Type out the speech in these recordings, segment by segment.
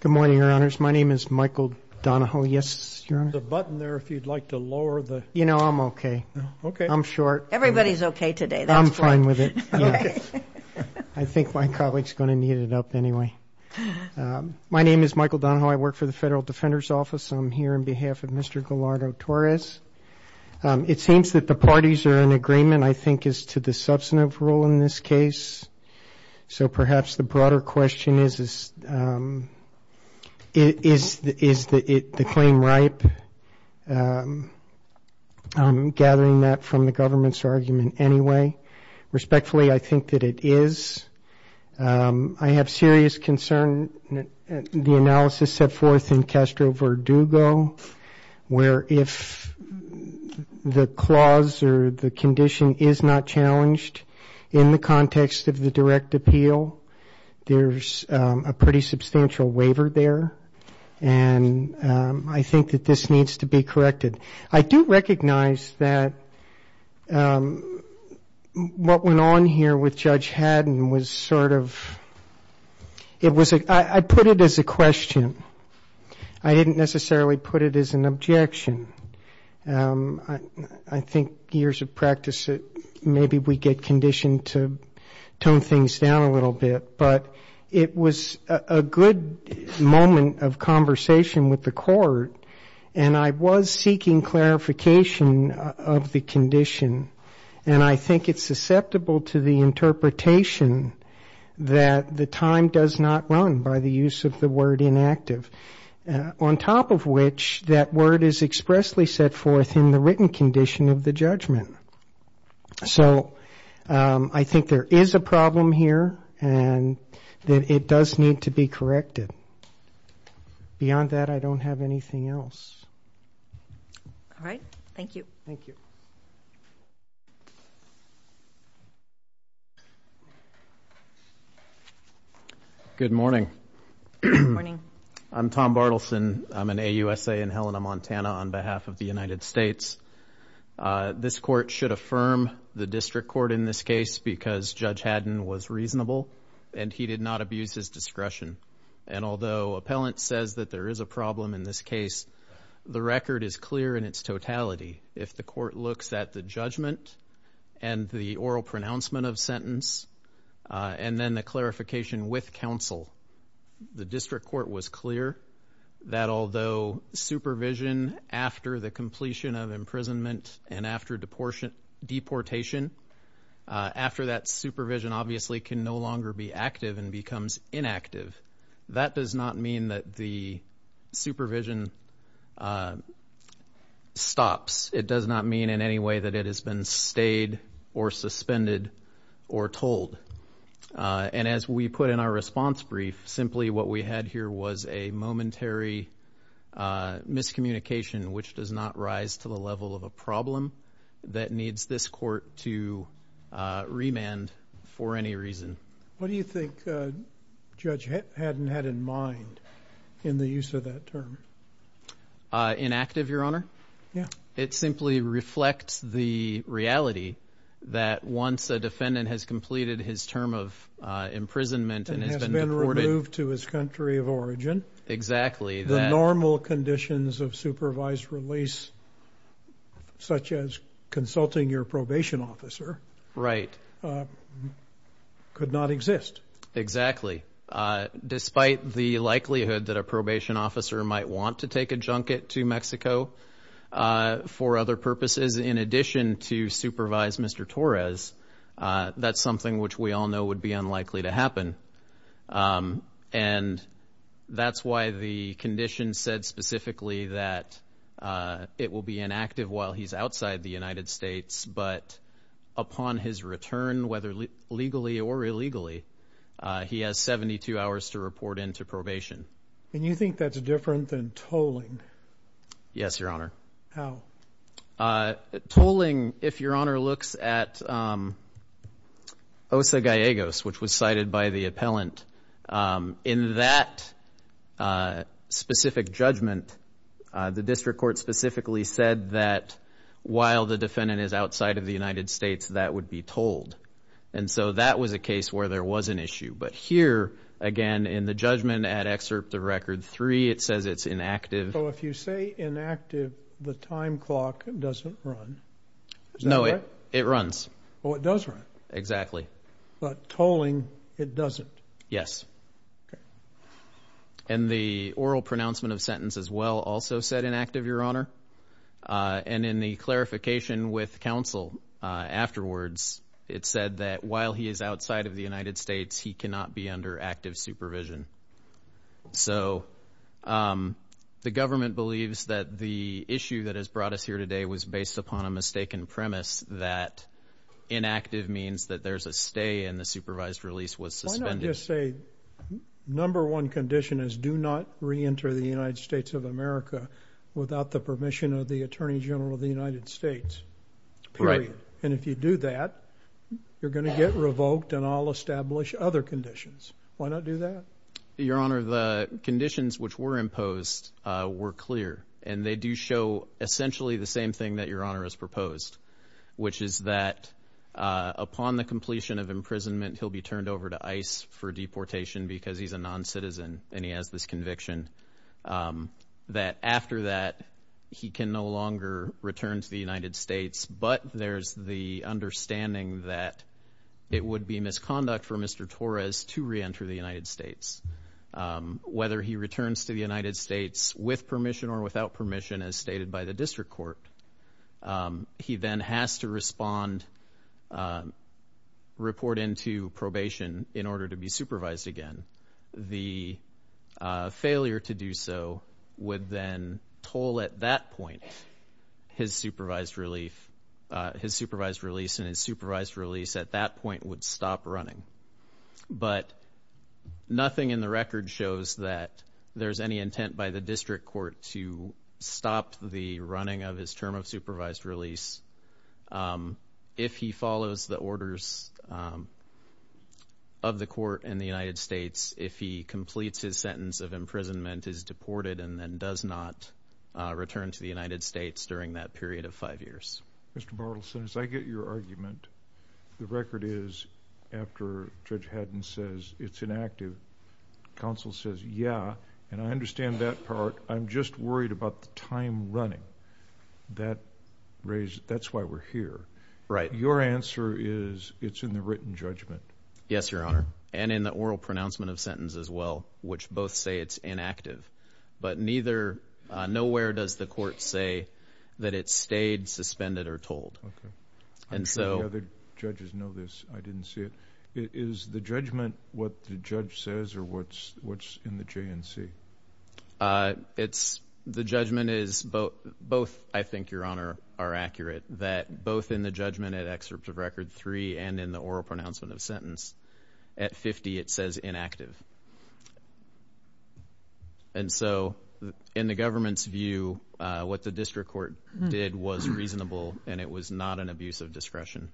Good morning, Your Honors. My name is Michael Donahoe. Yes, Your Honor? There's a button there if you'd like to lower the... You know, I'm okay. Okay. I'm short. Everybody's okay today. I'm fine with it. Okay. I think my colleague's going to need it up anyway. My name is Michael Donahoe. I work for the Federal Defender's Office. I'm here on behalf of Mr. Gallardo-Torres. It seems that the parties are in agreement, I think, as to the substantive role in this case. So perhaps the broader question is, is the claim ripe? I'm gathering that from the government's argument anyway. Respectfully, I think that it is. I have serious concern that the analysis set forth in Castro-Verdugo, where if the clause or the condition is not challenged in the context of the direct appeal, there's a pretty substantial waiver there. And I think that this needs to be corrected. I do recognize that what went on here with Judge Haddon was sort of ‑‑ I put it as a question. I didn't necessarily put it as an objection. I think years of practice, maybe we get conditioned to tone things down a little bit. But it was a good moment of conversation with the court, and I was seeking clarification of the condition. And I think it's susceptible to the interpretation that the time does not run, by the use of the word inactive. On top of which, that word is expressly set forth in the written condition of the judgment. So I think there is a problem here, and it does need to be corrected. Beyond that, I don't have anything else. All right. Thank you. Thank you. Good morning. Good morning. I'm Tom Bartleson. I'm an AUSA in Helena, Montana, on behalf of the United States. This court should affirm the district court in this case because Judge Haddon was reasonable, and he did not abuse his discretion. And although appellant says that there is a problem in this case, the record is clear in its totality. If the court looks at the judgment and the oral pronouncement of sentence and then the clarification with counsel, the district court was clear that although supervision after the completion of imprisonment and after deportation, after that supervision obviously can no longer be active and becomes inactive. That does not mean that the supervision stops. It does not mean in any way that it has been stayed or suspended or told. And as we put in our response brief, simply what we had here was a momentary miscommunication, which does not rise to the level of a problem that needs this court to remand for any reason. What do you think Judge Haddon had in mind in the use of that term? Inactive, Your Honor? Yeah. It simply reflects the reality that once a defendant has completed his term of imprisonment and has been deported. And has been removed to his country of origin. Exactly. The normal conditions of supervised release, such as consulting your probation officer. Right. Could not exist. Exactly. Despite the likelihood that a probation officer might want to take a junket to Mexico for other purposes in addition to supervise Mr. Torres, that's something which we all know would be unlikely to happen. And that's why the condition said specifically that it will be inactive while he's outside the United States. But upon his return, whether legally or illegally, he has 72 hours to report into probation. And you think that's different than tolling? Yes, Your Honor. How? Tolling, if Your Honor looks at Osa Gallegos, which was cited by the appellant, in that specific judgment, the district court specifically said that while the defendant is outside of the United States, that would be tolled. And so that was a case where there was an issue. But here, again, in the judgment at Excerpt of Record 3, it says it's inactive. So if you say inactive, the time clock doesn't run. Is that right? No, it runs. Oh, it does run. Exactly. But tolling, it doesn't. Yes. Okay. And the oral pronouncement of sentence as well also said inactive, Your Honor. And in the clarification with counsel afterwards, it said that while he is outside of the United States, he cannot be under active supervision. So the government believes that the issue that has brought us here today was based upon a mistaken premise that inactive means that there's a stay and the supervised release was suspended. I would just say number one condition is do not reenter the United States of America without the permission of the Attorney General of the United States, period. Right. And if you do that, you're going to get revoked and I'll establish other conditions. Why not do that? Your Honor, the conditions which were imposed were clear, and they do show essentially the same thing that Your Honor has proposed, which is that upon the completion of imprisonment, he'll be turned over to ICE for deportation because he's a noncitizen and he has this conviction, that after that he can no longer return to the United States, but there's the understanding that it would be misconduct for Mr. Torres to reenter the United States. Whether he returns to the United States with permission or without permission, as stated by the district court, he then has to respond, report into probation in order to be supervised again. The failure to do so would then toll at that point his supervised release, and his supervised release at that point would stop running. But nothing in the record shows that there's any intent by the district court to stop the running of his term of supervised release. If he follows the orders of the court in the United States, if he completes his sentence of imprisonment, is deported, and then does not return to the United States during that period of five years. Mr. Bartleson, as I get your argument, the record is after Judge Haddon says it's inactive, counsel says, yeah, and I understand that part, I'm just worried about the time running. That's why we're here. Right. Your answer is it's in the written judgment. Yes, Your Honor, and in the oral pronouncement of sentence as well, which both say it's inactive. But nowhere does the court say that it stayed, suspended, or told. Okay. I'm sure the other judges know this. I didn't see it. Is the judgment what the judge says, or what's in the JNC? The judgment is both, I think, Your Honor, are accurate, that both in the judgment at excerpt of record three and in the oral pronouncement of sentence at 50 it says inactive. And so in the government's view, what the district court did was reasonable, and it was not an abuse of discretion.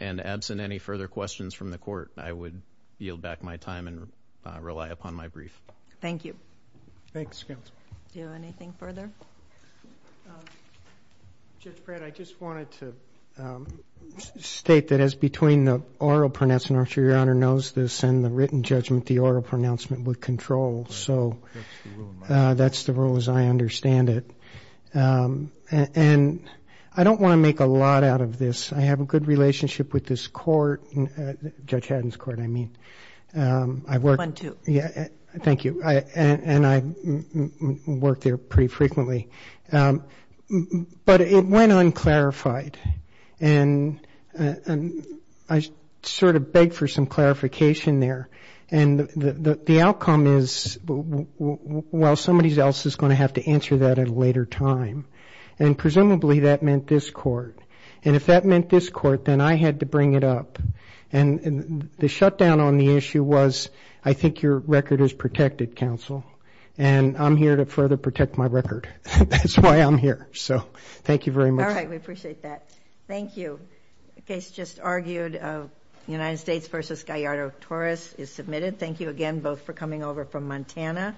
And absent any further questions from the court, I would yield back my time and rely upon my brief. Thank you. Thanks, counsel. Do you have anything further? Judge Pratt, I just wanted to state that as between the oral pronouncement, I'm sure Your Honor knows this, and the written judgment, the oral pronouncement would control. So that's the rule as I understand it. And I don't want to make a lot out of this. I have a good relationship with this court, Judge Haddon's court, I mean. One, two. Thank you. And I work there pretty frequently. But it went unclarified, and I sort of begged for some clarification there. And the outcome is, well, somebody else is going to have to answer that at a later time. And presumably that meant this court. And if that meant this court, then I had to bring it up. And the shutdown on the issue was, I think your record is protected, counsel, and I'm here to further protect my record. That's why I'm here. So thank you very much. All right. We appreciate that. Thank you. The case just argued, United States v. Gallardo-Torres, is submitted. Thank you again both for coming over from Montana.